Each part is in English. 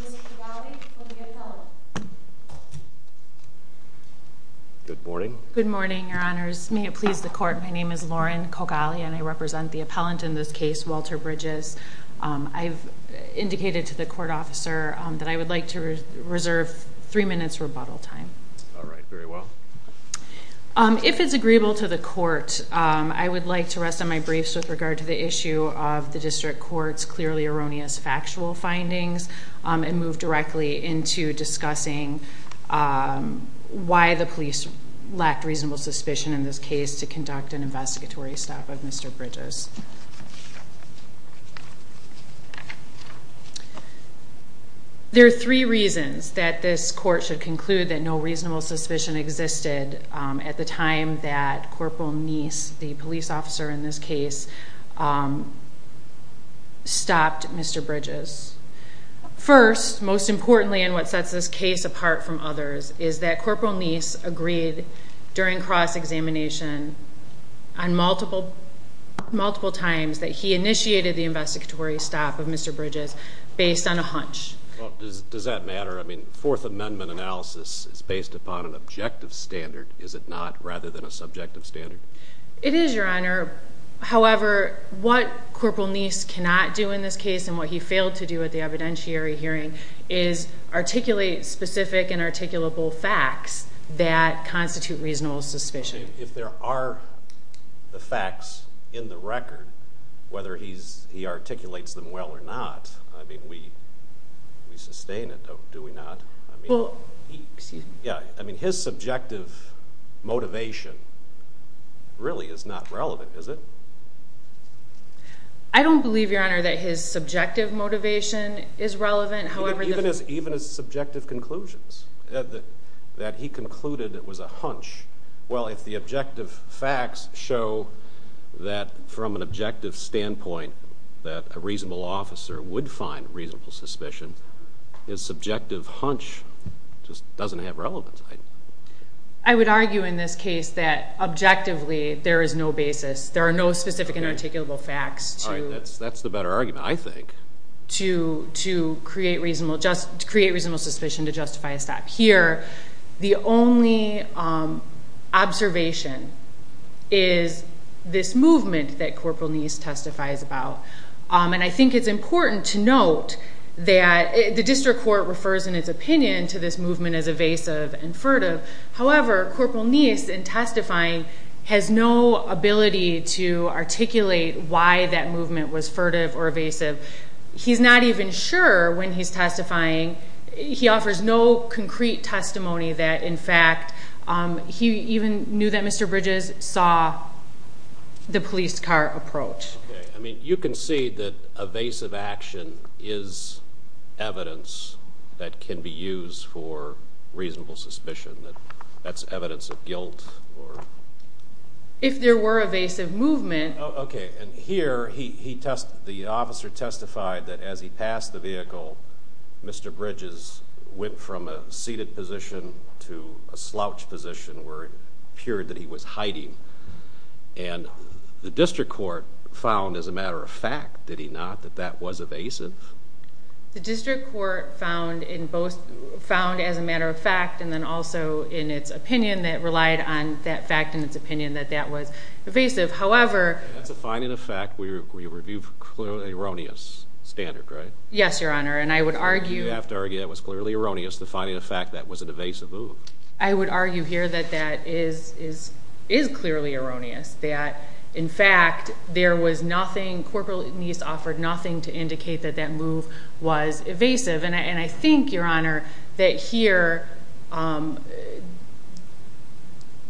Mr. Cogalli from the appellant Good morning Good morning your honors may it please the court my name is Lauren Cogalli and I represent the appellant in this case Walter Bridges I've indicated to the court officer that I would like to reserve three minutes rebuttal time all right very well if it's agreeable to the court I would like to rest on my briefs with regard to the issue of the district court's clearly erroneous factual findings and move directly into discussing why the police lacked reasonable suspicion in this case to conduct an investigatory stop of Mr. Bridges there are three reasons that this court should conclude that no reasonable suspicion existed at the time that Corporal Neese the police officer in this case stopped Mr. Bridges first most importantly and what sets this case apart from others is that Corporal Neese agreed during cross-examination on multiple multiple times that he initiated the investigatory stop of Mr. Bridges based on a hunch well does that matter I mean fourth amendment analysis is based upon an objective standard is it not rather than a subjective standard it is your honor however what Corporal Neese cannot do in this case and what he failed to do at the evidentiary hearing is articulate specific and articulable facts that constitute reasonable suspicion if there are the facts in the record whether he's he well yeah I mean his subjective motivation really is not relevant is it I don't believe your honor that his subjective motivation is relevant however even as even as subjective conclusions that he concluded it was a hunch well if the objective facts show that from an objective standpoint that a reasonable officer would find reasonable suspicion his subjective hunch just doesn't have relevance I would argue in this case that objectively there is no basis there are no specific and articulable facts all right that's that's the better argument I think to to create reasonable just to create reasonable suspicion to justify a stop here the only observation is this movement that Corporal Neese testifies about and I think it's the district court refers in its opinion to this movement as evasive and furtive however Corporal Neese in testifying has no ability to articulate why that movement was furtive or evasive he's not even sure when he's testifying he offers no concrete testimony that in fact he even knew that Mr. Bridges saw the police car approach okay I mean you can see that evasive action is evidence that can be used for reasonable suspicion that that's evidence of guilt or if there were evasive movement okay and here he he tested the officer testified that as he passed the vehicle Mr. Bridges went from a seated position to a slouch position where it appeared that he was hiding and the district court found as a matter of fact did he not that that was evasive the district court found in both found as a matter of fact and then also in its opinion that relied on that fact in its opinion that that was evasive however that's a finding of fact we review for clearly erroneous standard right yes your honor and I would argue you have to argue it was clearly erroneous the finding of fact that was an evasive move I would argue here that that is is is clearly erroneous that in fact there was nothing corporal needs offered nothing to indicate that that move was evasive and I think your honor that here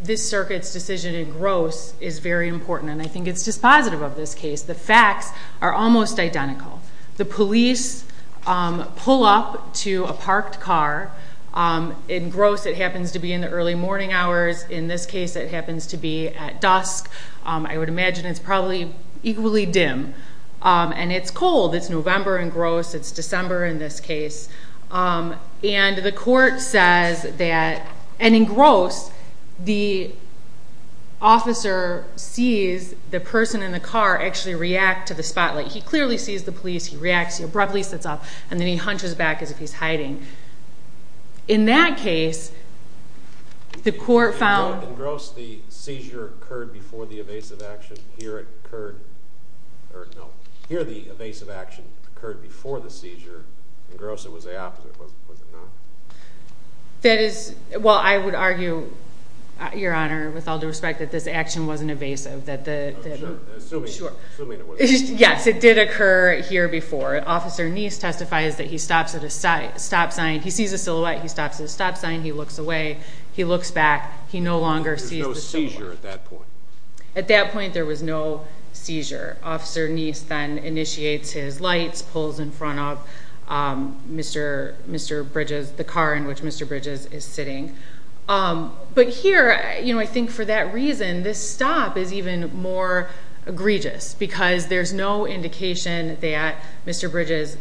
this circuit's decision in gross is very important and I think it's just positive of this case the facts are almost identical the police pull up to a parked car in gross it happens to be in the early morning hours in this case it happens to be at dusk I would imagine it's probably equally dim and it's cold it's November and gross it's December in this case and the court says that and in gross the officer sees the person in the car actually react to the spotlight he clearly sees the police he reacts he abruptly sits up and then he hunches back as if he's hiding in that case the court found gross the seizure occurred before the evasive action here it occurred or no here the evasive action occurred before the seizure in gross it was the opposite was it not that is well I would argue your honor with all due respect that this action wasn't evasive that the yes it did occur here before officer niece testifies that he stops at a stop sign he sees a silhouette he stops at a stop sign he looks away he looks back he no longer sees the seizure at that point at that point there was no seizure officer niece then initiates his lights pulls in front of mr mr bridges the car in which mr bridges is sitting but here you know I think for that reason this stop is even more egregious because there's no indication that mr bridges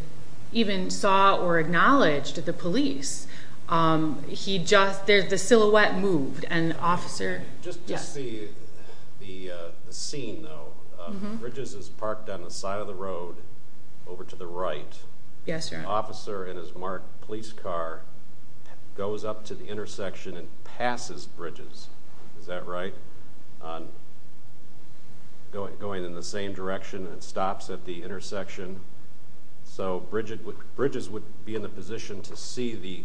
even saw or acknowledged the police um he just there's the silhouette moved and officer just just the the uh the scene though bridges is parked on the side of the road over to the right yes your officer in his marked police car goes up to the intersection and passes bridges is that right on going going in the same direction and stops at the intersection so bridget with bridges would be in the position to see the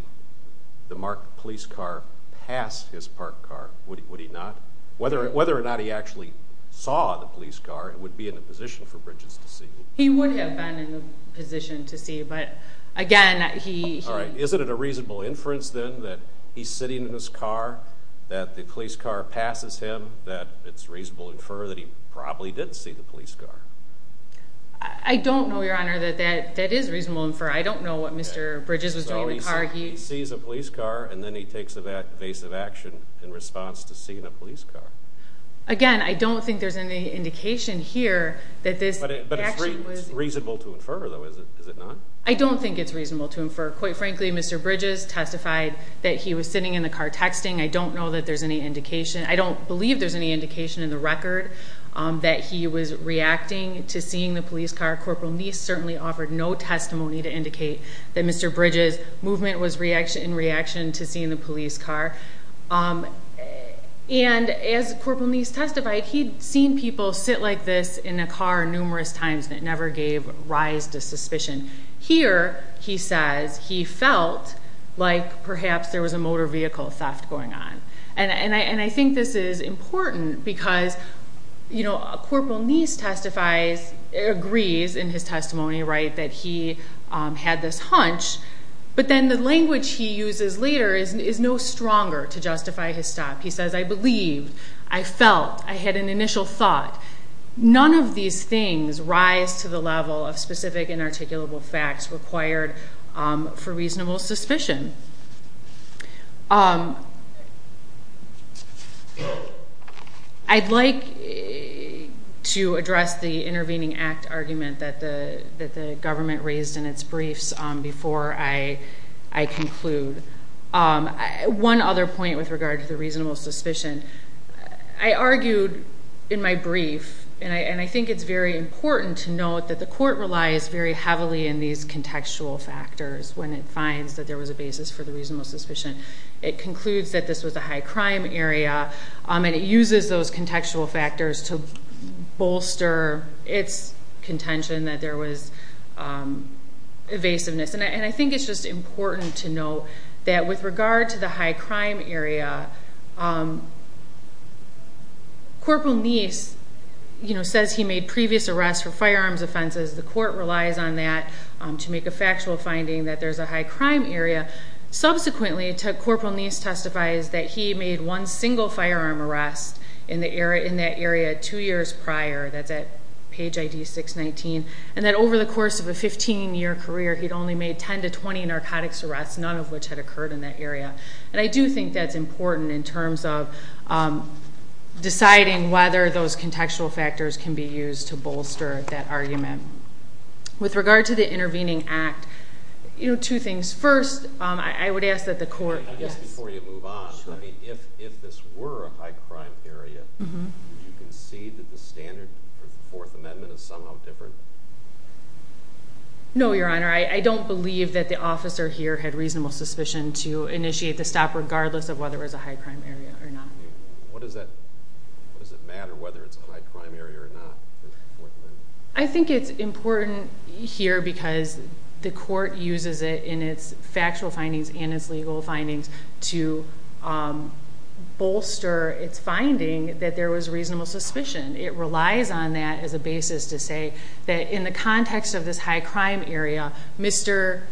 the marked police car past his parked car would he not whether whether or not he actually saw the police car it would be in a position for bridges to see he would have been in a position to see but again he all right isn't it a reasonable inference then that he's sitting in his car that the police car passes him that it's reasonable infer that he probably didn't see the police car I don't know your honor that that that is reasonable infer I don't know what mr bridges was doing the car he sees a police car and then he takes of that evasive action in response to seeing a police car again I don't think there's any indication here that this but it but it's reasonable to infer though is it is it not I don't think it's reasonable to infer quite frankly mr bridges testified that he was sitting in the car texting I don't know that there's any indication I don't believe there's any indication in the record that he was reacting to seeing the police car corporal niece certainly offered no testimony to indicate that mr bridges movement was reaction in reaction to seeing the police car and as corporal niece testified he'd seen people sit like this in a car numerous times that never gave rise to suspicion here he says he felt like perhaps there was a motor vehicle theft going on and and I and I think this is important because you know a corporal niece testifies agrees in his testimony right that he um had this hunch but then the language he uses later is is no stronger to justify his stop he says I believed I felt I had an initial thought none of these things rise to the level of specific and articulable facts required for reasonable suspicion um I'd like to address the intervening act argument that the that the government raised in its briefs um before I I conclude um one other point with regard to the reasonable suspicion I argued in my brief and I and I think it's very important to note that the court relies very heavily in these contextual factors when it finds that there was a basis for the reasonable suspicion it concludes that this was a high crime area um and it uses those contextual factors to bolster its contention that there was um evasiveness and I think it's just important to note that with regard to the high crime area um corporal niece you know says he made previous arrests for firearms offenses the court relies on that um to make a factual finding that there's a high crime area subsequently to corporal niece testifies that he made one single firearm arrest in the area in that area two years prior that's at page id 619 and that over the course of a 15 year career he'd only made 10 to 20 narcotics arrests none of which had occurred in that area and I do think that's important in terms of um deciding whether those contextual factors can be used to bolster that argument with regard to the intervening act you know two things first um I would ask that the court yes before you move on I mean if if this were a high crime area you concede that the standard for the fourth amendment is somehow different no your honor I don't believe that the officer here had reasonable suspicion to initiate the stop regardless of whether it was a high crime area or not what does that what does it matter whether it's a high crime area or not I think it's important here because the court uses it in its factual findings and its legal findings to um bolster its finding that there was reasonable suspicion it relies on that as a basis to say that in the context of this high crime area mr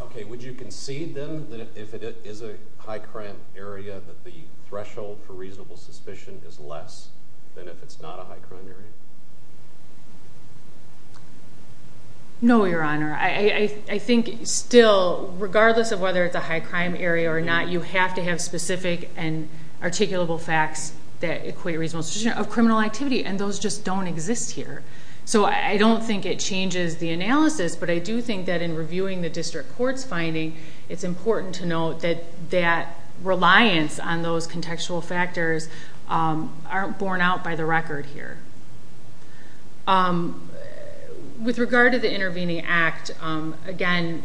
okay would you concede then that if it is a high crime area that the threshold for reasonable suspicion is less than if it's not a high crime area no your honor I I think still regardless of whether it's a high crime area or not you have to have specific and articulable facts that equate reasonable of criminal activity and those just don't exist here so I don't think it changes the analysis but I do think that in reviewing the district court's finding it's important to note that that reliance on those contextual factors aren't borne out by the record here with regard to the intervening act again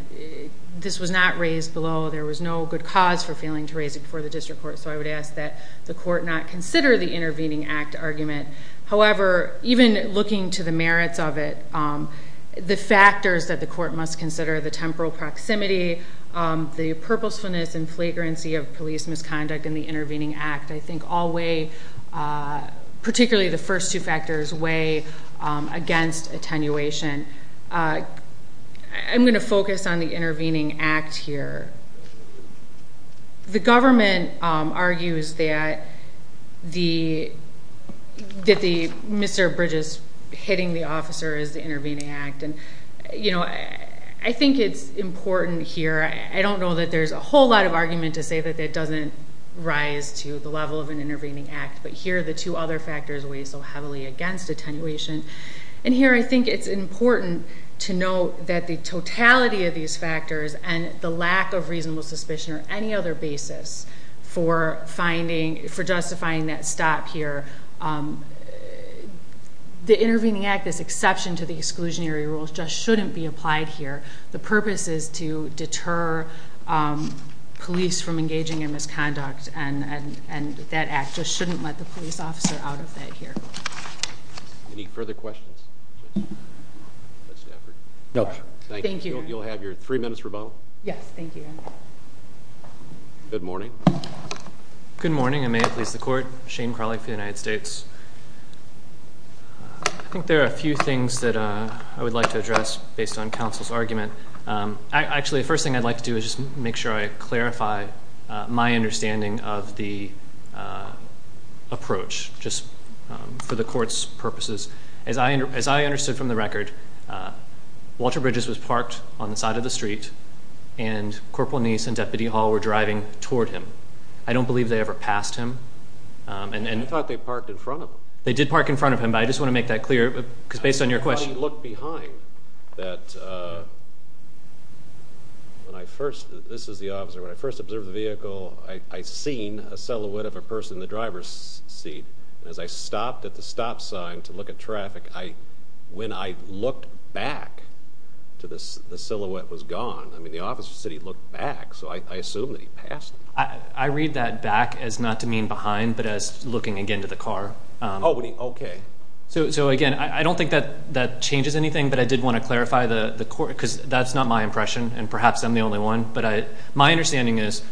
this was not raised below there was no good cause for failing to raise it before the district court so I would ask that the court not consider the intervening act argument however even looking to the merits of it the factors that the court must consider the temporal proximity the purposefulness and flagrancy of police misconduct in the uh particularly the first two factors way against attenuation I'm going to focus on the intervening act here the government argues that the that the mr bridges hitting the officer is the intervening act and you know I think it's important here I don't know that there's a whole lot of argument to say that that doesn't rise to the level of an intervening act but here the two other factors weigh so heavily against attenuation and here I think it's important to note that the totality of these factors and the lack of reasonable suspicion or any other basis for finding for justifying that stop here the intervening act this exception to the exclusionary rules just shouldn't be applied here the purpose is to deter um police from engaging in misconduct and and and that act just shouldn't let the police officer out of that here any further questions no thank you you'll have your three minutes rebuttal yes thank you good morning good morning I may have pleased the court Shane Carly for the United States I think there are a few things that uh I would like to address based on counsel's argument um actually the first thing I'd like to do is just make sure I clarify my understanding of the uh approach just um for the court's purposes as I as I understood from the record uh Walter Bridges was parked on the side of the street and Corporal Neese and Deputy Hall were driving toward him I don't believe they ever passed him um and I thought they parked in front of them they did park in front of him but I just want to make that clear because based on your question look behind that uh when I first this is the officer when I first observed the vehicle I I seen a silhouette of a person in the driver's seat and as I stopped at the stop sign to look at traffic I when I looked back to this the silhouette was gone I mean the officer said he looked back so I I assumed that he passed I I read that back as not to mean behind but as looking again to the car um oh okay so so again I I don't think that that changes anything but I did want to clarify the the court because that's not my impression and perhaps I'm the only one but I my understanding is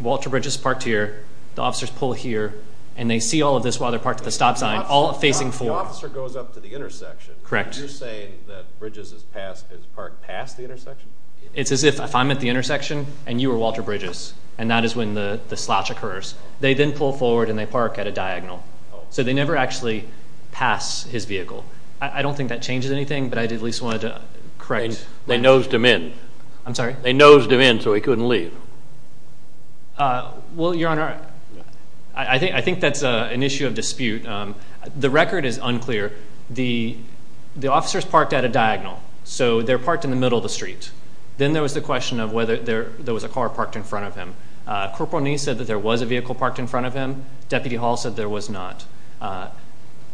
Walter Bridges parked here the officers pull here and they see all of this while they're parked at the stop sign all facing forward the officer goes up to the intersection correct you're saying that Bridges is past is parked past the intersection it's as if if I'm at the intersection and you were Walter Bridges and that is when the the slash occurs they then pull forward and they park at a diagonal so they never actually pass his vehicle I don't think that changes anything but I did at least wanted to correct they nosed him in I'm sorry they nosed him in so he couldn't leave uh well your honor I think I think that's a an issue of dispute um the record is unclear the the officers parked at a diagonal so they're parked in the middle of the street then there was the question of whether there there was a car parked in front of him uh corporal knee said that there was a vehicle parked in front of him deputy hall said there was not uh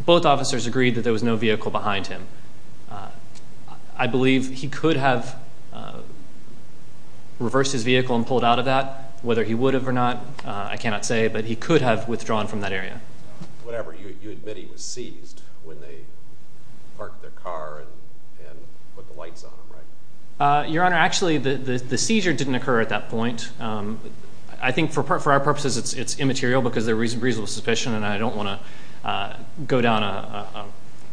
both officers agreed that there was no vehicle behind him I believe he could have reversed his vehicle and pulled out of that whether he would have or not uh I cannot say but he could have withdrawn from that area whatever you you admit he was seized when they parked their car and and put the lights on him right uh your honor actually the the seizure didn't occur at that point um I think for our purposes it's it's immaterial because there is reasonable suspicion and I don't want to uh go down a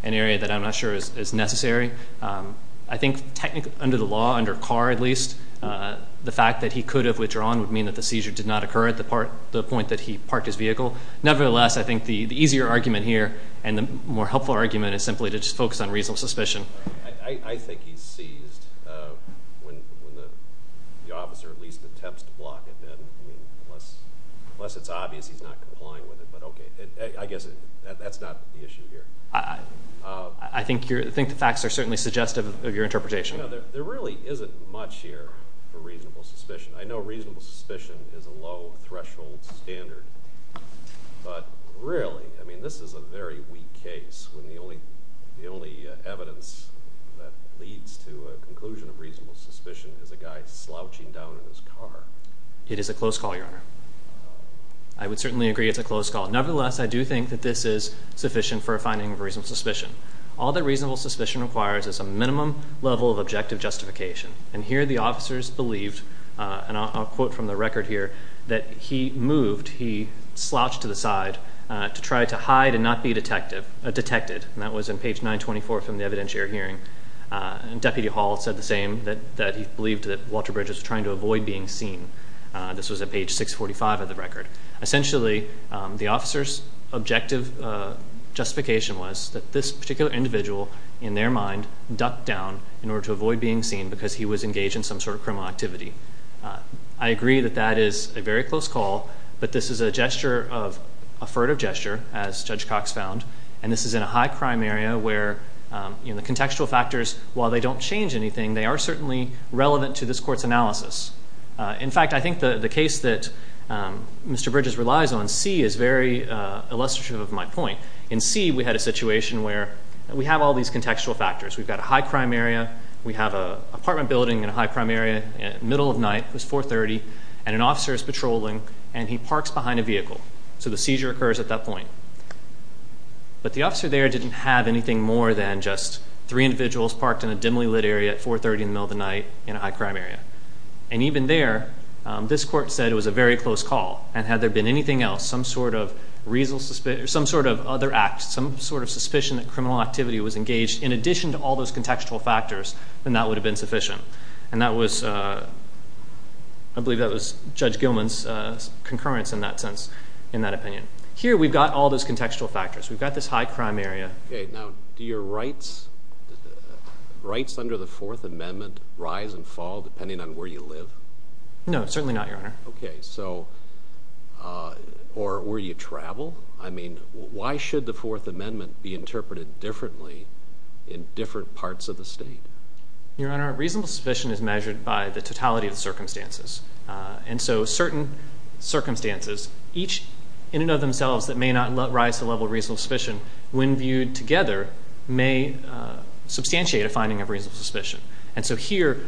an area that I'm not sure is necessary I think technically under the law under car at least uh the fact that he could have withdrawn would mean that the seizure did not occur at the part the point that he parked his vehicle nevertheless I think the the easier argument here and the more helpful argument is simply to just to block it then I mean unless unless it's obvious he's not complying with it but okay I guess that's not the issue here I I think you're I think the facts are certainly suggestive of your interpretation there really isn't much here for reasonable suspicion I know reasonable suspicion is a low threshold standard but really I mean this is a very weak case when the only the only evidence that leads to a conclusion of reasonable suspicion is a guy slouching down in his car it is a close call your honor I would certainly agree it's a close call nevertheless I do think that this is sufficient for a finding of reasonable suspicion all the reasonable suspicion requires is a minimum level of objective justification and here the officers believed uh and I'll quote from the record here that he moved he slouched to the side uh to try to hide and not be detective uh detected and that was on page 924 from the trying to avoid being seen this was at page 645 of the record essentially the officer's objective justification was that this particular individual in their mind ducked down in order to avoid being seen because he was engaged in some sort of criminal activity I agree that that is a very close call but this is a gesture of a furtive gesture as Judge Cox found and this is in a high crime area where you know the contextual factors while they don't change anything they are certainly relevant to this court's analysis in fact I think the the case that um Mr. Bridges relies on c is very uh illustrative of my point in c we had a situation where we have all these contextual factors we've got a high crime area we have a apartment building in a high crime area middle of night it was 4 30 and an officer is patrolling and he parks behind a vehicle so the seizure occurs at that point but the officer there didn't have anything more than just three individuals parked in a dimly lit area at 4 30 in the middle of the night in a high crime area and even there this court said it was a very close call and had there been anything else some sort of reason suspicious some sort of other act some sort of suspicion that criminal activity was engaged in addition to all those contextual factors then that would have been sufficient and that was uh I believe that was Judge Gilman's uh concurrence in that sense in that opinion here we've got all those contextual factors we've got this high crime area okay now do your rights rights under the fourth amendment rise and fall depending on where you live no certainly not your honor okay so uh or where you travel I mean why should the fourth amendment be interpreted differently in different parts of the state your honor reasonable suspicion is measured by the totality of the circumstances and so certain circumstances each in and of when viewed together may substantiate a finding of reasonable suspicion and so here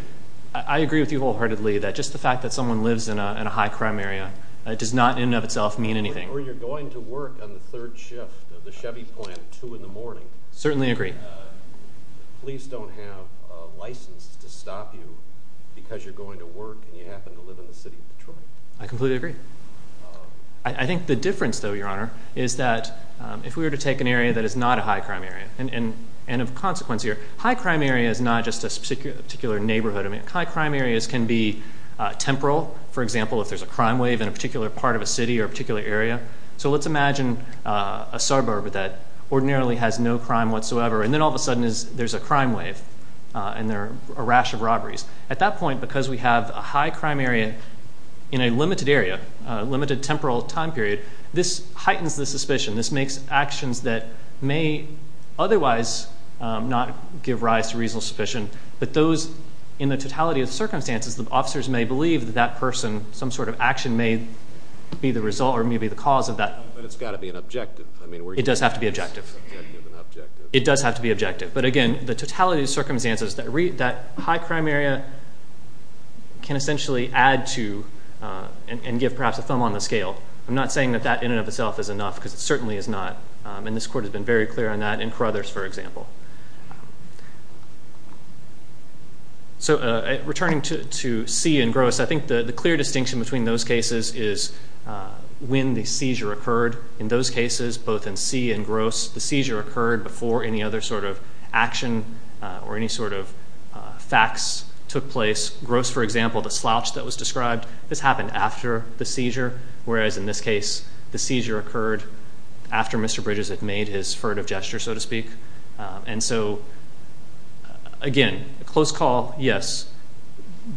I agree with you wholeheartedly that just the fact that someone lives in a high crime area it does not in and of itself mean anything or you're going to work on the third shift of the chevy plant two in the morning certainly agree police don't have a license to stop you because you're going to work and you happen to live in the city of Detroit I completely agree I think the difference though your honor is that if we were to take an area that is not a high crime area and and of consequence here high crime area is not just a particular neighborhood I mean high crime areas can be temporal for example if there's a crime wave in a particular part of a city or particular area so let's imagine a suburb that ordinarily has no crime whatsoever and then all of a sudden is there's a crime wave and there are a rash of robberies at that point because we have a high makes actions that may otherwise not give rise to reasonable suspicion but those in the totality of circumstances the officers may believe that that person some sort of action may be the result or maybe the cause of that but it's got to be an objective I mean it does have to be objective it does have to be objective but again the totality of circumstances that read that high crime area can essentially add to and give perhaps a thumb on the scale I'm not saying that in and of itself is enough because it certainly is not and this court has been very clear on that in Carothers for example so returning to to see and gross I think the clear distinction between those cases is when the seizure occurred in those cases both in see and gross the seizure occurred before any other sort of action or any sort of facts took place gross for example the slouch that was described this happened after the seizure whereas in this case the seizure occurred after Mr. Bridges had made his furtive gesture so to speak and so again a close call yes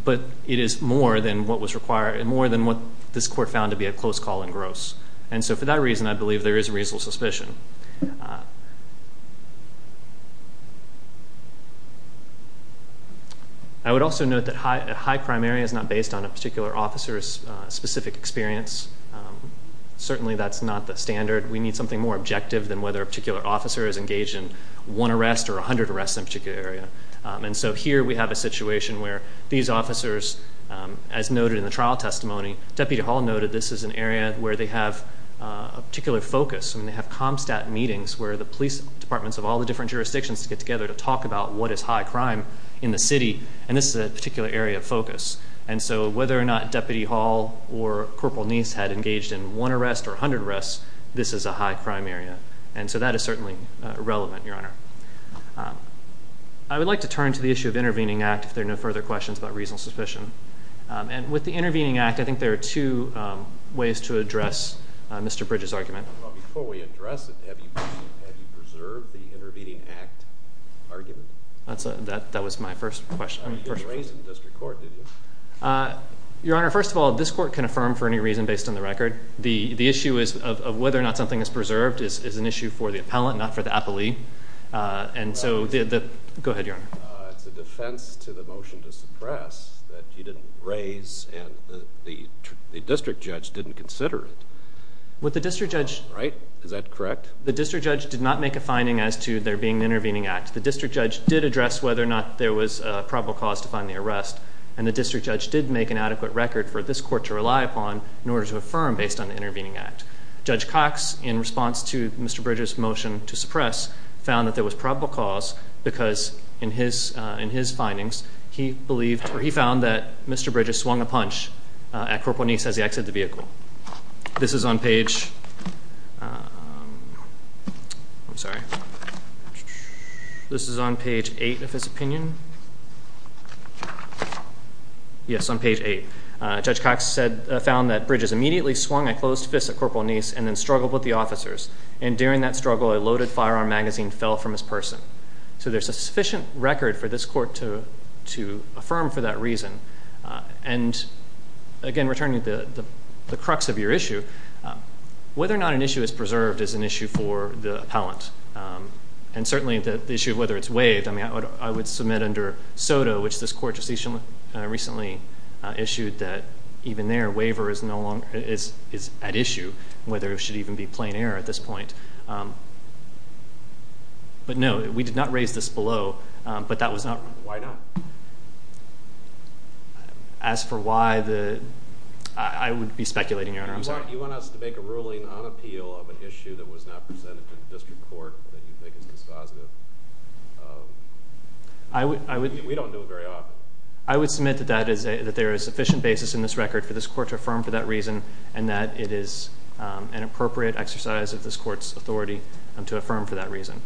but it is more than what was required and more than what this court found to be a close call and gross and so for that reason I believe there is a reasonable suspicion I would also note that high crime area is not based on a particular officer's specific experience certainly that's not the standard we need something more objective than whether a particular officer is engaged in one arrest or a hundred arrests in a particular area and so here we have a situation where these officers as noted in the trial testimony Deputy Hall noted this is an area where they have a particular focus and they have comstat meetings where the police departments of all the different jurisdictions to get together to talk about what is high crime in the city and this is a particular area of focus and so whether or not Deputy Hall or Corporal Neese had engaged in one arrest or 100 arrests this is a high crime area and so that is certainly relevant your honor I would like to turn to the issue of intervening act if there are no further questions about Mr. Bridges' argument. Well before we address it have you preserved the intervening act argument? That was my first question. You didn't raise it in district court did you? Your honor first of all this court can affirm for any reason based on the record the issue is of whether or not something is preserved is an issue for the appellant not for the appellee and so the go ahead your honor. It's a defense to the motion to suppress that you didn't raise and the district judge didn't consider it. With the district judge right is that correct? The district judge did not make a finding as to there being an intervening act the district judge did address whether or not there was a probable cause to find the arrest and the district judge did make an adequate record for this court to rely upon in order to affirm based on the intervening act. Judge Cox in response to Mr. Bridges' motion to suppress found that there was probable cause because in his findings he believed or he found that Mr. Bridges swung a punch at Corporal Neese as he exited the vehicle. This is on page I'm sorry this is on page eight of his opinion yes on page eight. Judge Cox said found that Bridges immediately swung a closed fist at Corporal Neese and then struggled with the officers and during that struggle a loaded firearm magazine fell from his person. So there's a sufficient record for this court to affirm for that reason and again returning to the crux of your issue whether or not an issue is preserved is an issue for the appellant and certainly the issue of whether it's waived I mean I would submit under SOTA which this court just recently issued that even their waiver is no error at this point but no we did not raise this below but that was not why not as for why the I would be speculating your honor I'm sorry you want us to make a ruling on appeal of an issue that was not presented to the district court that you think is dispositive I would I would we don't do it very often I would submit that that is that there is sufficient basis in this record for this court to affirm for that reason and that it is an appropriate exercise of this court's authority to affirm for that reason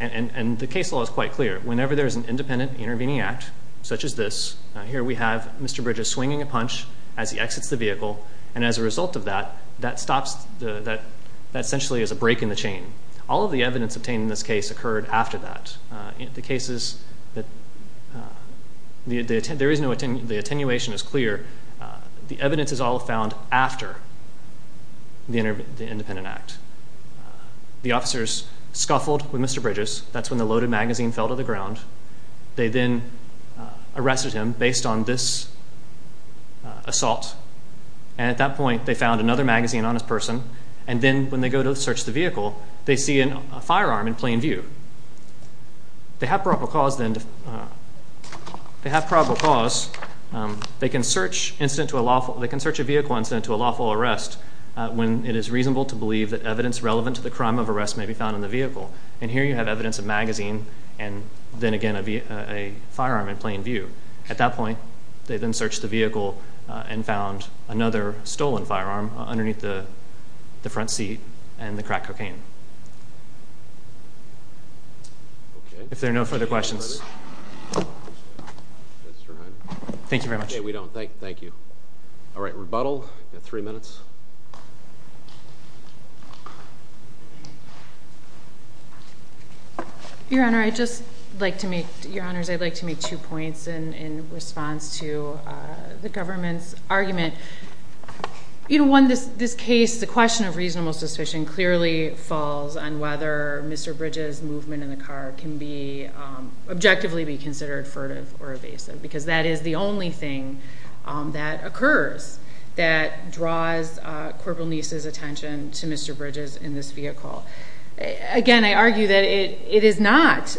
and and the case law is quite clear whenever there is an independent intervening act such as this here we have Mr. Bridges swinging a punch as he exits the vehicle and as a result of that that stops the that that essentially is a break in the chain all of the evidence obtained in this case occurred after that in the cases that the there is no attenuation is clear the evidence is all found after the independent act the officers scuffled with Mr. Bridges that's when the loaded magazine fell to the ground they then arrested him based on this assault and at that point they found another magazine on his person and then when they go search the vehicle they see a firearm in plain view they have probable cause then they have probable cause they can search incident to a lawful they can search a vehicle incident to a lawful arrest when it is reasonable to believe that evidence relevant to the crime of arrest may be found in the vehicle and here you have evidence of magazine and then again a firearm in plain view at that point they then searched the vehicle and found another stolen firearm underneath the the front seat and the crack cocaine if there are no further questions thank you very much okay we don't thank thank you all right rebuttal you got three minutes your honor i just like to make your honors i'd like to make two points in in response to the government's argument you know one this this case the question of reasonable suspicion clearly falls on whether Mr. Bridges movement in the car can be objectively be considered furtive or evasive because that is the only thing that occurs that draws corporal Neece's attention to Mr. Bridges in this vehicle again i argue that it it is not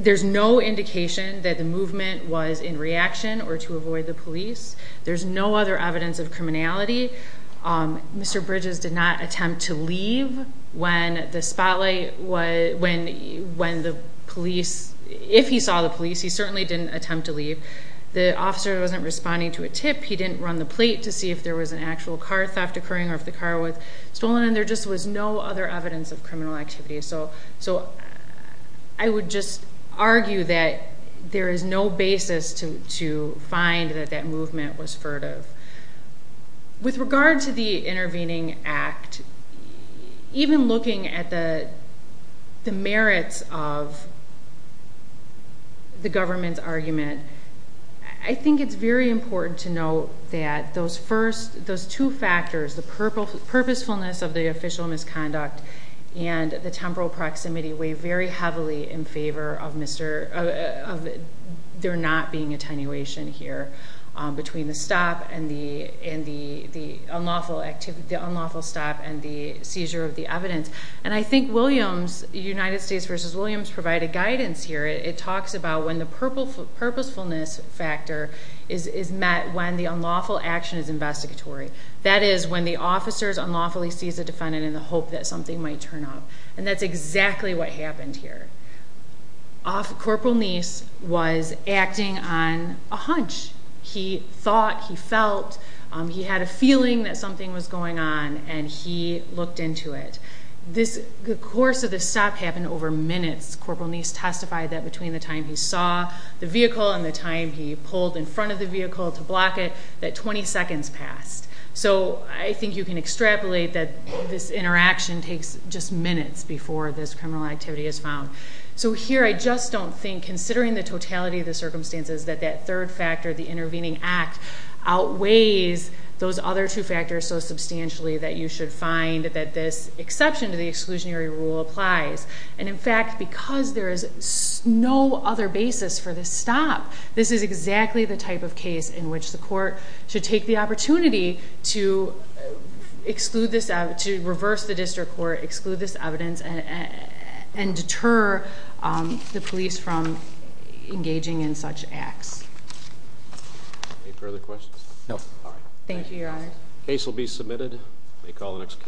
there's no indication that movement was in reaction or to avoid the police there's no other evidence of criminality um Mr. Bridges did not attempt to leave when the spotlight was when when the police if he saw the police he certainly didn't attempt to leave the officer wasn't responding to a tip he didn't run the plate to see if there was an actual car theft occurring or if the car was stolen and there just was no other evidence of criminal activity so so i would just argue that there is no basis to to find that that movement was furtive with regard to the intervening act even looking at the the merits of the government's argument i think it's very important to note that those first those two factors the purple purposefulness of the official misconduct and the temporal proximity weigh very heavily in favor of mr of they're not being attenuation here between the stop and the and the the unlawful activity the unlawful stop and the seizure of the evidence and i think williams united states versus williams provided guidance here it talks about when the purple purposefulness factor is is met when the unlawful action is investigatory that is when the officers unlawfully sees a defendant in the hope that something might turn up and that's exactly what happened here off corporal niece was acting on a hunch he thought he felt he had a feeling that something was going on and he looked into it this the course of the stop happened over minutes corporal niece testified that between the time he saw the vehicle and the time he pulled in front of the vehicle to block it that 20 seconds passed so i think you can extrapolate that this interaction takes just minutes before this criminal activity is found so here i just don't think considering the totality of the circumstances that that third factor the intervening act outweighs those other two factors so substantially that you should find that this exception to the exclusionary rule applies and in fact because there is no other basis for this stop this is exactly the type of case in which the court should take the opportunity to exclude this out to reverse the district court exclude this evidence and and deter the police from engaging in such acts any further questions no all right thank you your honor case will be submitted they call the next case